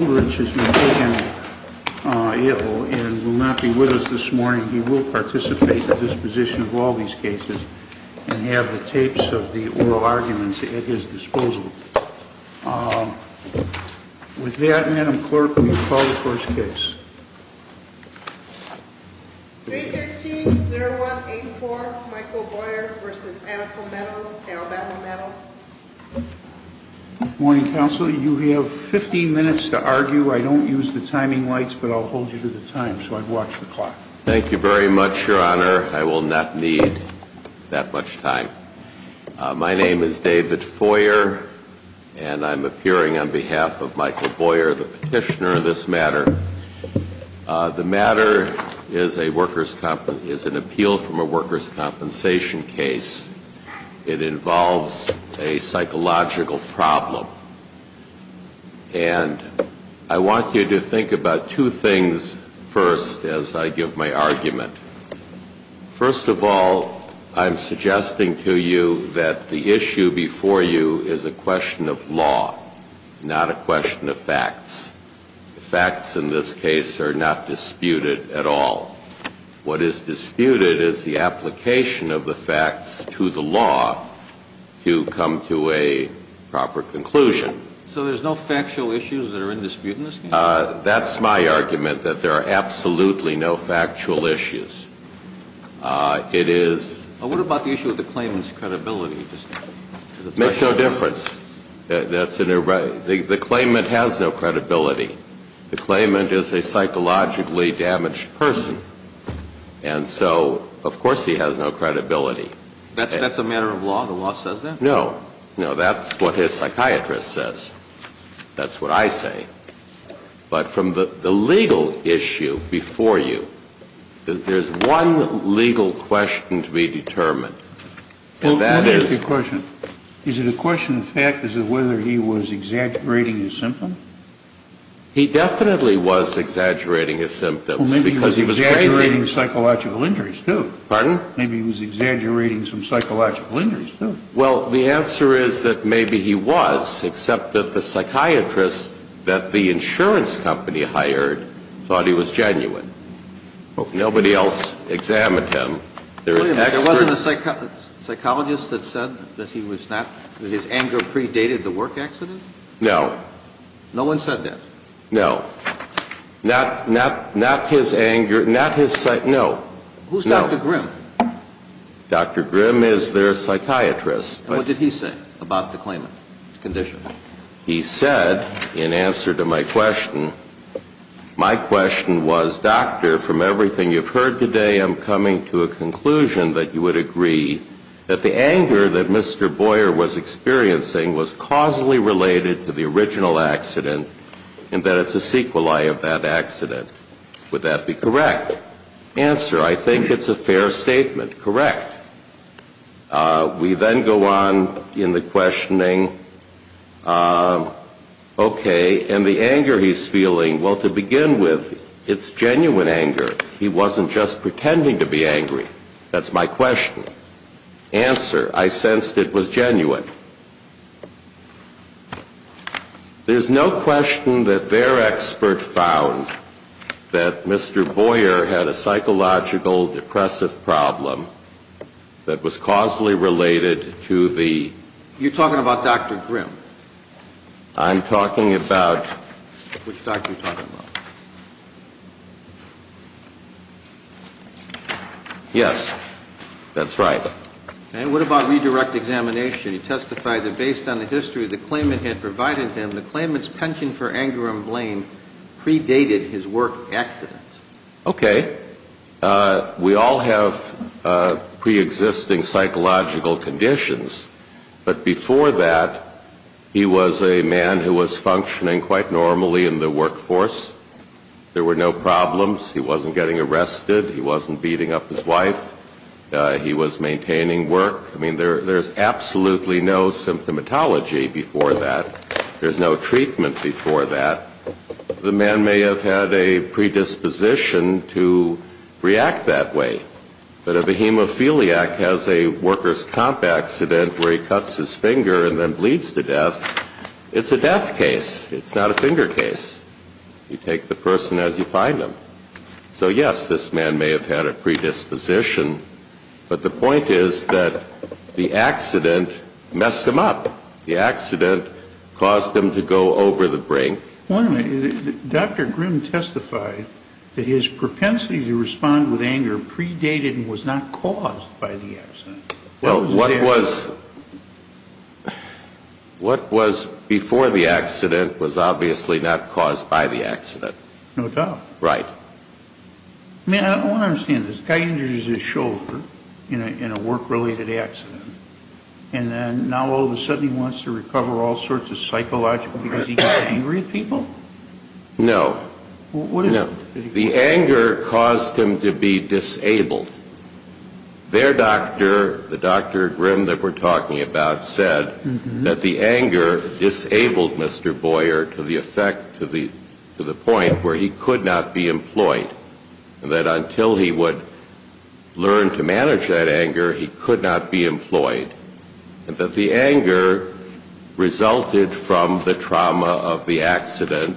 Aldrich is not able and will not be with us this morning. He will participate in the disposition of all these cases and have the tapes of the oral arguments at his disposal. With that, Madam Clerk, will you call the first case? 313-0184 Michael Boyer v. Anaco Metals, Alabama Metal. Good morning, Counsel. You have 15 minutes to argue. I don't use the timing lights, but I'll hold you to the time, so I'd watch the clock. Thank you very much, Your Honor. I will not need that much time. My name is David Foyer, and I'm appearing on behalf of Michael Boyer, the petitioner of this matter. The matter is an appeal from a workers' compensation case. It involves a psychological problem. And I want you to think about two things first as I give my argument. First of all, I'm suggesting to you that the issue before you is a question of law, not a question of facts. The facts in this case are not disputed at all. What is disputed is the application of the facts to the law to come to a proper conclusion. So there's no factual issues that are in dispute in this case? That's my argument, that there are absolutely no factual issues. It is... What about the issue of the claimant's credibility? It makes no difference. The claimant has no credibility. The claimant is a psychologically damaged person. And so, of course, he has no credibility. That's a matter of law? The law says that? No. No, that's what his psychiatrist says. That's what I say. But from the legal issue before you, there's one legal question to be determined, and that is... Well, let me ask you a question. Is it a question of facts as to whether he was exaggerating his symptoms? He definitely was exaggerating his symptoms because he was... Well, maybe he was exaggerating psychological injuries, too. Pardon? Maybe he was exaggerating some psychological injuries, too. Well, the answer is that maybe he was, except that the psychiatrist that the insurance company hired thought he was genuine. Nobody else examined him. There is an expert... Wait a minute. There wasn't a psychologist that said that he was not... that his anger predated the work accident? No. No one said that? No. Not his anger, not his... No. No. Who's Dr. Grimm? Dr. Grimm is their psychiatrist. And what did he say about the claimant's condition? He said, in answer to my question, my question was, Doctor, from everything you've heard today, I'm coming to a conclusion that you would agree that the anger that Mr. Boyer was experiencing was causally related to the original accident and that it's a sequelae of that accident. Would that be correct? Answer, I think it's a fair statement. Correct. We then go on in the questioning, okay, and the anger he's feeling, well, to begin with, it's genuine anger. He wasn't just pretending to be angry. That's my question. Answer, I sensed it was genuine. There's no question that their expert found that Mr. Boyer had a psychological depressive problem that was causally related to the... You're talking about Dr. Grimm. I'm talking about... Which doctor are you talking about? Yes, that's right. And what about redirect examination? He testified that based on the history the claimant had provided him, the claimant's penchant for anger and blame predated his work accident. Okay. We all have preexisting psychological conditions, but before that, he was a man who was functioning quite normally in the workforce. There were no problems. He wasn't getting arrested. He wasn't beating up his wife. He was maintaining work. I mean, there's absolutely no symptomatology before that. There's no treatment before that. The man may have had a predisposition to react that way, but a behemophiliac has a worker's comp accident where he cuts his finger and then bleeds to death. It's a death case. It's not a finger case. You take the person as you find them. So, yes, this man may have had a predisposition, but the point is that the accident messed him up. The accident caused him to go over the brink. Dr. Grimm testified that his propensity to respond with anger predated and was not caused by the accident. Well, what was before the accident was obviously not caused by the accident. No doubt. Right. I mean, I don't understand this. A guy injures his shoulder in a work-related accident, and then now all of a sudden he wants to recover all sorts of psychological because he gets angry at people? No. What is it? The anger caused him to be disabled. Their doctor, the Dr. Grimm that we're talking about, said that the anger disabled Mr. Boyer to the point where he could not be employed, and that until he would learn to manage that anger, he could not be employed, and that the anger resulted from the trauma of the accident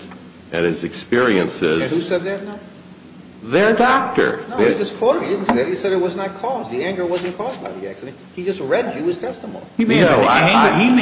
and his experiences. And who said that now? Their doctor. No, he just quoted me. He said it was not caused. The anger wasn't caused by the accident. He just read you his testimony. Well, he may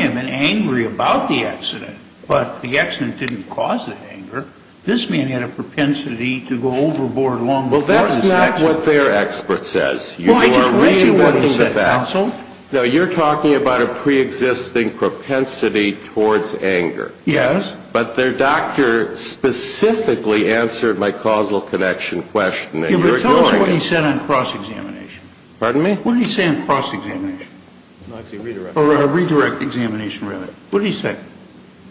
have been angry about the accident, but the accident didn't cause the anger. This man had a propensity to go overboard along the course of the accident. Well, that's not what their expert says. Well, I just read you what he said, counsel. No, you're talking about a preexisting propensity towards anger. Yes. But their doctor specifically answered my causal connection question, and you're ignoring it. Yeah, but tell us what he said on cross-examination. Pardon me? What did he say on cross-examination? Redirect. Or a redirect examination, really. What did he say?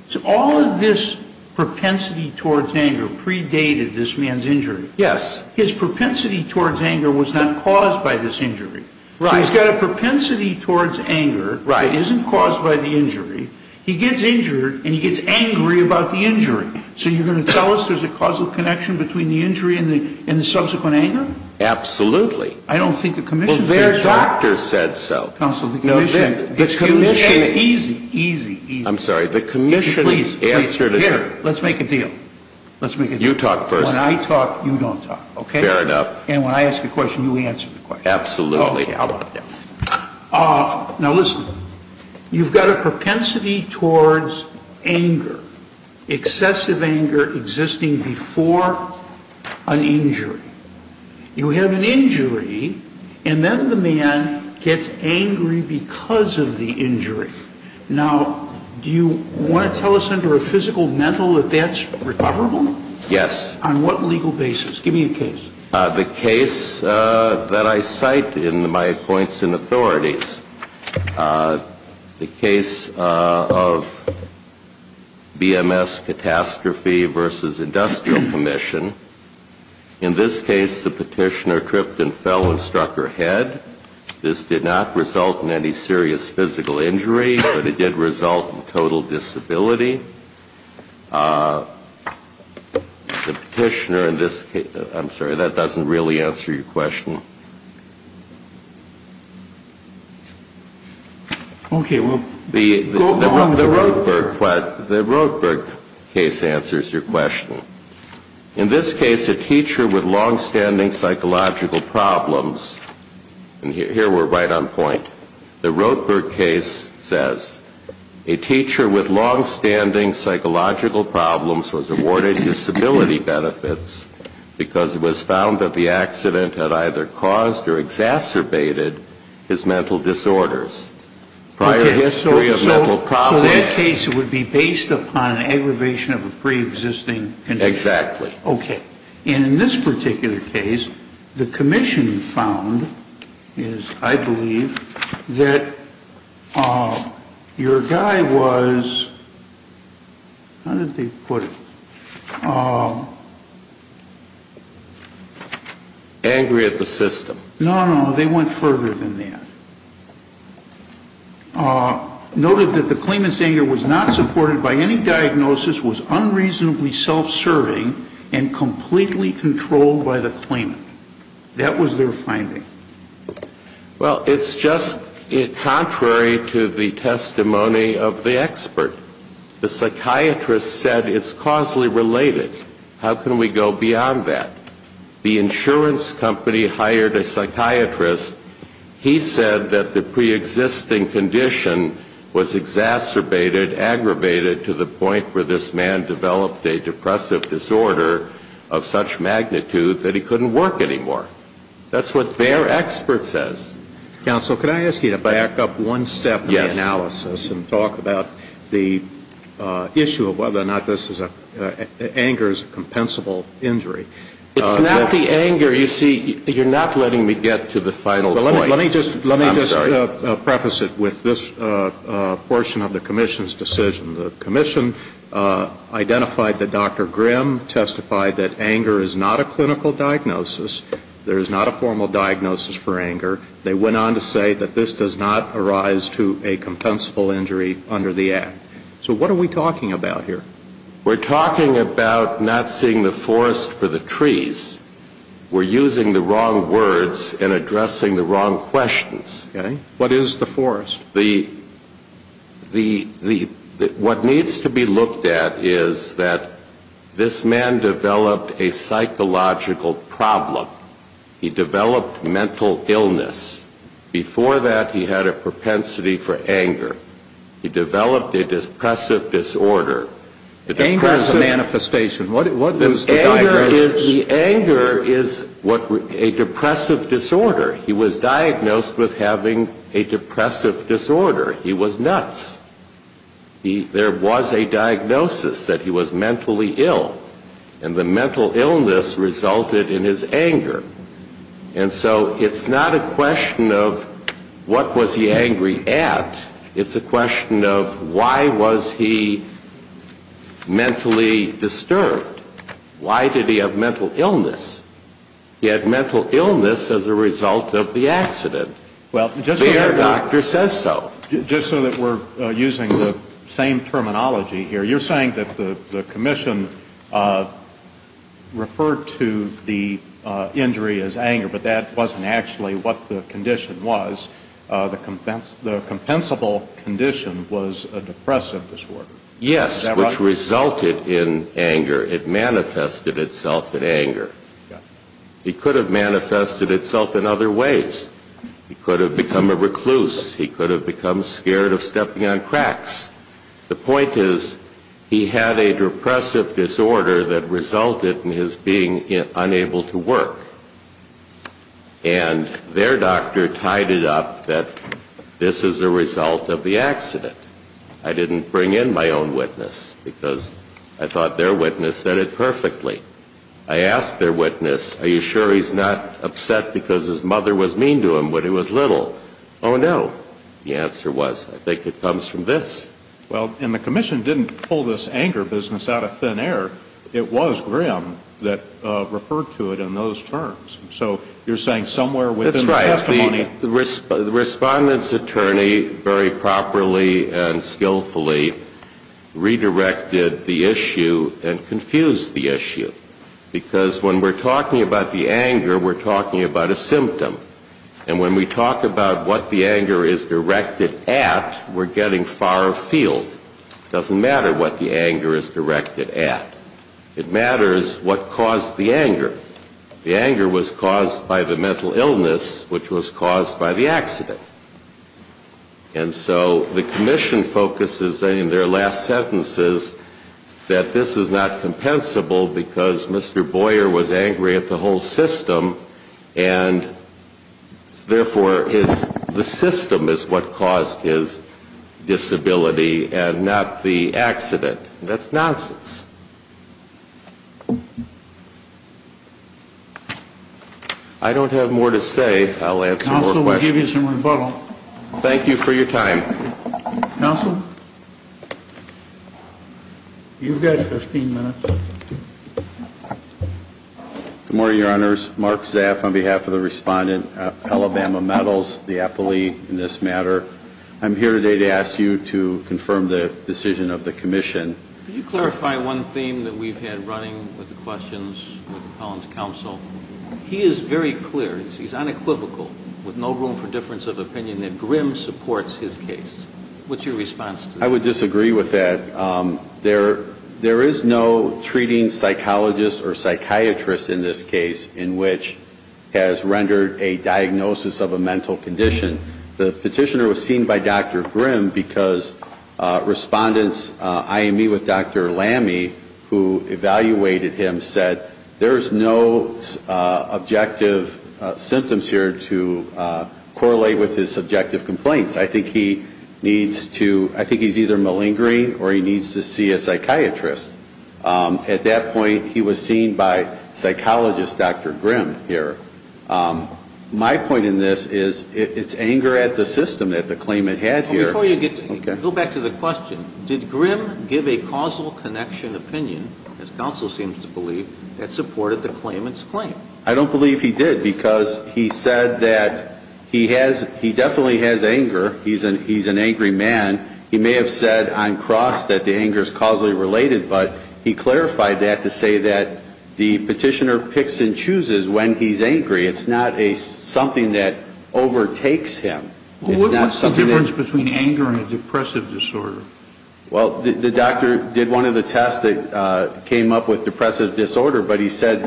So all of this propensity towards anger predated this man's injury. Yes. His propensity towards anger was not caused by this injury. Right. So he's got a propensity towards anger that isn't caused by the injury. He gets injured, and he gets angry about the injury. So you're going to tell us there's a causal connection between the injury and the subsequent anger? Absolutely. I don't think the commission said so. Well, their doctor said so. Counsel, the commission. No, the commission. Excuse me. Easy, easy, easy. I'm sorry. The commission answered it. Here, let's make a deal. Let's make a deal. You talk first. When I talk, you don't talk, okay? Fair enough. And when I ask a question, you answer the question. Absolutely. Okay. How about that? Now, listen. You've got a propensity towards anger, excessive anger existing before an injury. You have an injury, and then the man gets angry because of the injury. Now, do you want to tell us under a physical mental that that's recoverable? Yes. On what legal basis? Give me a case. The case that I cite in my points in authorities, the case of BMS catastrophe versus industrial commission. In this case, the petitioner tripped and fell and struck her head. This did not result in any serious physical injury, but it did result in total disability. The petitioner in this case, I'm sorry, that doesn't really answer your question. Okay, well, go on. The Rothberg case answers your question. In this case, a teacher with longstanding psychological problems, and here we're right on point, the Rothberg case says a teacher with longstanding psychological problems was awarded disability benefits because it was found that the accident had either caused or exacerbated his mental disorders. Prior history of mental problems. So that case would be based upon an aggravation of a preexisting condition. Exactly. Okay. And in this particular case, the commission found, I believe, that your guy was, how did they put it? Angry at the system. No, no, they went further than that. Noted that the claimant's anger was not supported by any diagnosis, was unreasonably self-serving, and completely controlled by the claimant. That was their finding. Well, it's just contrary to the testimony of the expert. The psychiatrist said it's causally related. How can we go beyond that? The insurance company hired a psychiatrist. He said that the preexisting condition was exacerbated, aggravated, to the point where this man developed a depressive disorder of such magnitude that he couldn't work anymore. That's what their expert says. Counsel, can I ask you to back up one step in the analysis and talk about the issue of whether or not anger is a compensable injury? It's not the anger. You see, you're not letting me get to the final point. Let me just preface it with this portion of the commission's decision. The commission identified that Dr. Grimm testified that anger is not a clinical diagnosis. There is not a formal diagnosis for anger. They went on to say that this does not arise to a compensable injury under the Act. So what are we talking about here? We're talking about not seeing the forest for the trees. We're using the wrong words and addressing the wrong questions. Okay. What is the forest? What needs to be looked at is that this man developed a psychological problem. He developed mental illness. Before that, he had a propensity for anger. He developed a depressive disorder. Anger is a manifestation. What is the diagnosis? The anger is a depressive disorder. He was diagnosed with having a depressive disorder. He was nuts. There was a diagnosis that he was mentally ill, and the mental illness resulted in his anger. And so it's not a question of what was he angry at. It's a question of why was he mentally disturbed. Why did he have mental illness? He had mental illness as a result of the accident. The air doctor says so. Just so that we're using the same terminology here, you're saying that the commission referred to the injury as anger, but that wasn't actually what the condition was. The compensable condition was a depressive disorder. Yes, which resulted in anger. It manifested itself in anger. He could have manifested itself in other ways. He could have become a recluse. He could have become scared of stepping on cracks. The point is he had a depressive disorder that resulted in his being unable to work. And their doctor tied it up that this is a result of the accident. I didn't bring in my own witness because I thought their witness said it perfectly. I asked their witness, are you sure he's not upset because his mother was mean to him when he was little? Oh, no. The answer was I think it comes from this. Well, and the commission didn't pull this anger business out of thin air. It was Grimm that referred to it in those terms. So you're saying somewhere within the testimony. That's right. The respondent's attorney very properly and skillfully redirected the issue and confused the issue because when we're talking about the anger, we're talking about a symptom. And when we talk about what the anger is directed at, we're getting far afield. It doesn't matter what the anger is directed at. It matters what caused the anger. The anger was caused by the mental illness which was caused by the accident. And so the commission focuses in their last sentences that this is not compensable because Mr. Boyer was angry at the whole system and therefore the system is what caused his disability and not the accident. That's nonsense. I don't have more to say. I'll answer more questions. Counsel, we'll give you some rebuttal. Thank you for your time. Counsel, you've got 15 minutes. Good morning, Your Honors. Mark Zaff on behalf of the respondent, Alabama Metals, the affilee in this matter. I'm here today to ask you to confirm the decision of the commission. Could you clarify one thing that we've had running with the questions with Collins Counsel? He is very clear. He's unequivocal with no room for difference of opinion that Grimm supports his case. What's your response to that? I would disagree with that. There is no treating psychologist or psychiatrist in this case in which has rendered a diagnosis of a mental condition. The petitioner was seen by Dr. Grimm because respondents IME with Dr. Lamme, who evaluated him, said there's no objective symptoms here to correlate with his subjective complaints. I think he's either malingering or he needs to see a psychiatrist. At that point, he was seen by psychologist Dr. Grimm here. My point in this is it's anger at the system that the claimant had here. Before you get to that, go back to the question. Did Grimm give a causal connection opinion, as counsel seems to believe, that supported the claimant's claim? I don't believe he did because he said that he definitely has anger. He's an angry man. He may have said on cross that the anger is causally related, but he clarified that to say that the petitioner picks and chooses when he's angry. It's not something that overtakes him. What's the difference between anger and a depressive disorder? Well, the doctor did one of the tests that came up with depressive disorder, but he said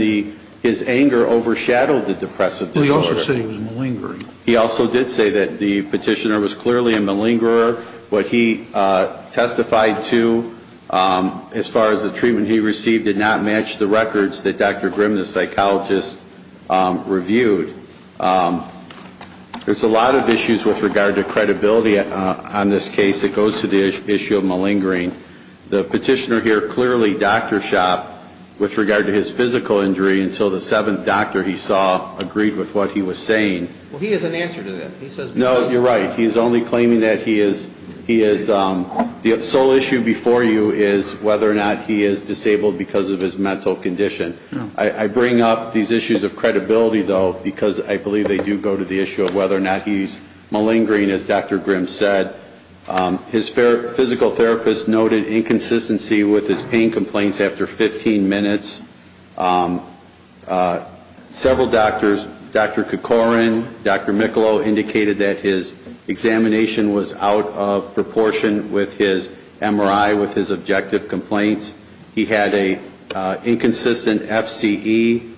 his anger overshadowed the depressive disorder. Well, he also said he was malingering. He also did say that the petitioner was clearly a malingerer. What he testified to, as far as the treatment he received, did not match the records that Dr. Grimm, the psychologist, reviewed. There's a lot of issues with regard to credibility on this case that goes to the issue of malingering. The petitioner here clearly doctor shopped with regard to his physical injury until the seventh doctor he saw agreed with what he was saying. Well, he has an answer to that. No, you're right. He's only claiming that he is. The sole issue before you is whether or not he is disabled because of his mental condition. I bring up these issues of credibility, though, because I believe they do go to the issue of whether or not he's malingering, as Dr. Grimm said. His physical therapist noted inconsistency with his pain complaints after 15 minutes. Several doctors, Dr. Kikorin, Dr. Michelow, indicated that his examination was out of proportion with his MRI, with his objective complaints. He had an inconsistent FCE.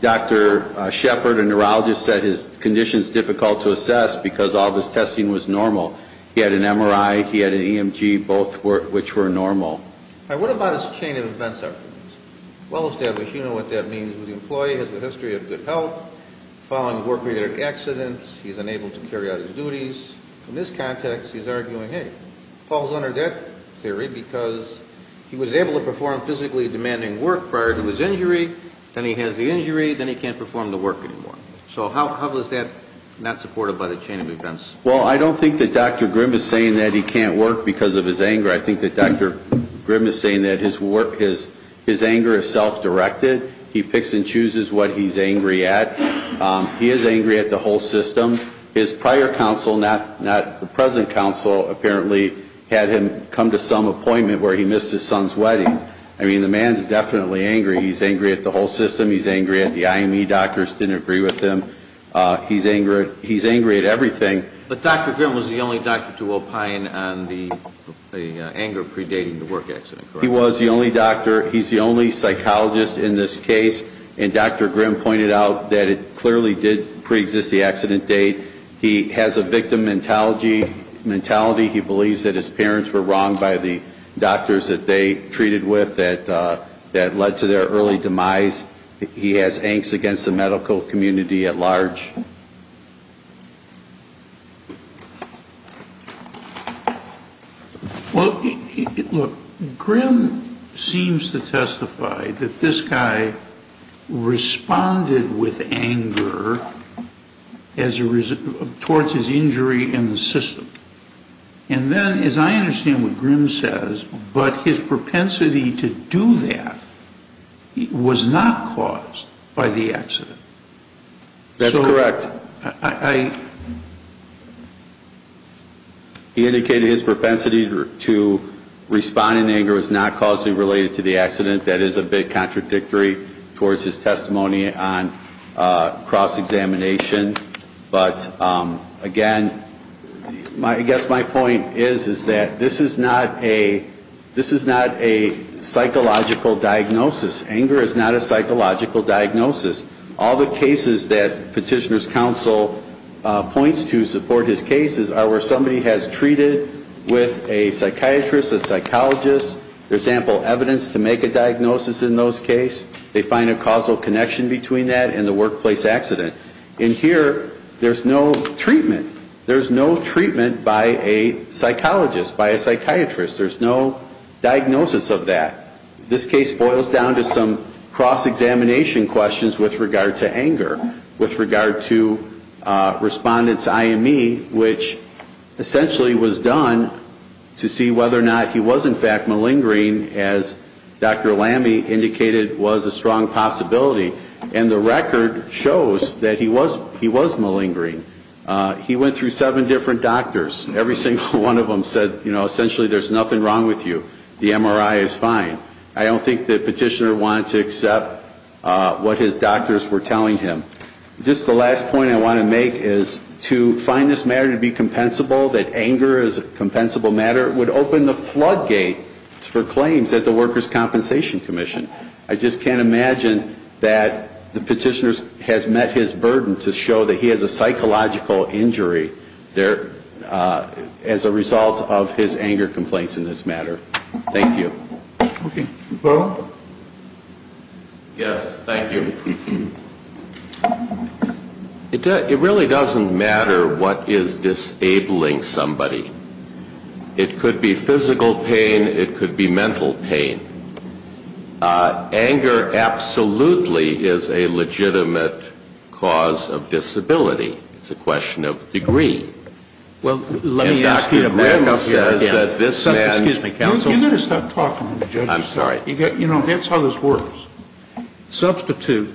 Dr. Shepard, a neurologist, said his condition is difficult to assess because all of his testing was normal. He had an MRI. He had an EMG, both of which were normal. Now, what about his chain of events evidence? Well established, you know what that means. The employee has a history of good health. Following a work-related accident, he's unable to carry out his duties. In this context, he's arguing, hey, Paul's under that theory because he was able to carry out his duties and he was able to perform physically demanding work prior to his injury, then he has the injury, then he can't perform the work anymore. So how is that not supported by the chain of events? Well, I don't think that Dr. Grimm is saying that he can't work because of his anger. I think that Dr. Grimm is saying that his work, his anger is self-directed. He picks and chooses what he's angry at. He is angry at the whole system. His prior counsel, not the present counsel, apparently had him come to some appointment where he missed his son's wedding. I mean, the man's definitely angry. He's angry at the whole system. He's angry at the IME doctors didn't agree with him. He's angry at everything. But Dr. Grimm was the only doctor to opine on the anger predating the work accident, correct? He was the only doctor. He's the only psychologist in this case. And Dr. Grimm pointed out that it clearly did preexist the accident date. He has a victim mentality. He believes that his parents were wronged by the doctors that they treated with that led to their early demise. He has angst against the medical community at large. Well, look, Grimm seems to testify that this guy responded with anger towards his injury in the system. And then, as I understand what Grimm says, but his propensity to do that was not caused by the accident. That's correct. He indicated his propensity to respond in anger was not causally related to the accident. That is a bit contradictory towards his testimony on cross-examination. But, again, I guess my point is that this is not a psychological diagnosis. Anger is not a psychological diagnosis. All the cases that Petitioner's Counsel points to support his cases are where somebody has treated with a psychiatrist, a psychologist. There's ample evidence to make a diagnosis in those cases. They find a causal connection between that and the workplace accident. In here, there's no treatment. There's no treatment by a psychologist, by a psychiatrist. There's no diagnosis of that. This case boils down to some cross-examination questions with regard to anger, with regard to respondents' IME, which essentially was done to see whether or not he was, in fact, malingering, as Dr. Lamy indicated was a strong possibility. And the record shows that he was malingering. He went through seven different doctors. Every single one of them said, you know, essentially, there's nothing wrong with you. The MRI is fine. I don't think that Petitioner wanted to accept what his doctors were telling him. Just the last point I want to make is to find this matter to be compensable, that anger is a compensable matter, would open the floodgates for claims at the Workers' Compensation Commission. I just can't imagine that the Petitioner has met his burden to show that he has a psychological injury as a result of his anger complaints in this matter. Thank you. Okay. Paul? Yes, thank you. It really doesn't matter what is disabling somebody. It could be physical pain. It could be mental pain. Anger absolutely is a legitimate cause of disability. It's a question of degree. Well, let me ask you again. Excuse me, counsel. Can you just stop talking? I'm sorry. You know, that's how this works. Substitute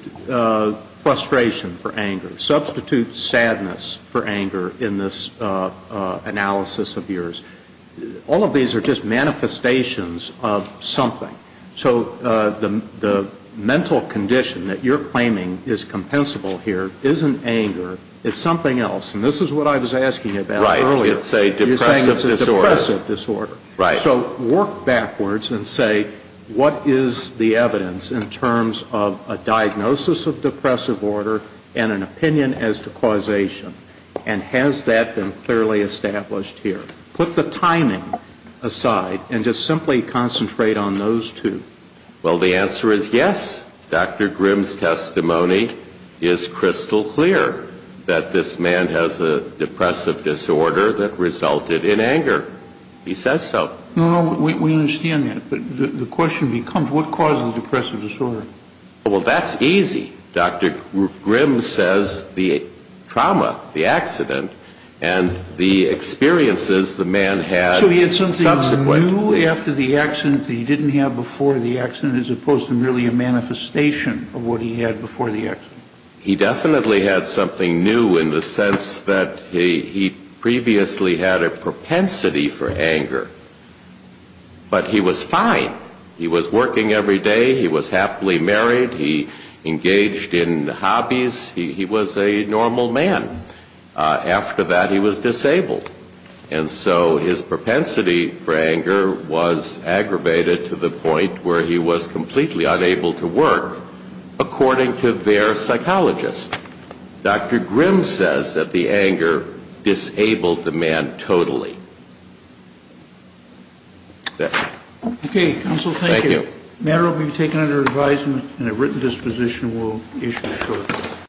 frustration for anger. Substitute sadness for anger in this analysis of yours. All of these are just manifestations of something. So the mental condition that you're claiming is compensable here isn't anger. It's something else. And this is what I was asking about earlier. Right. It's a depressive disorder. You're saying it's a depressive disorder. Right. So work backwards and say what is the evidence in terms of a diagnosis of depressive order and an opinion as to causation? And has that been clearly established here? Put the timing aside and just simply concentrate on those two. Well, the answer is yes. Dr. Grimm's testimony is crystal clear that this man has a depressive disorder that resulted in anger. He says so. No, no. We understand that. But the question becomes what caused the depressive disorder? Well, that's easy. Dr. Grimm says the trauma, the accident, and the experiences the man had subsequent. He didn't have before the accident as opposed to merely a manifestation of what he had before the accident. He definitely had something new in the sense that he previously had a propensity for anger. But he was fine. He was working every day. He was happily married. He engaged in hobbies. He was a normal man. After that, he was disabled. And so his propensity for anger was aggravated to the point where he was completely unable to work, according to their psychologist. Dr. Grimm says that the anger disabled the man totally. Okay, counsel, thank you. Thank you. The matter will be taken under advisement, and a written disposition will issue shortly.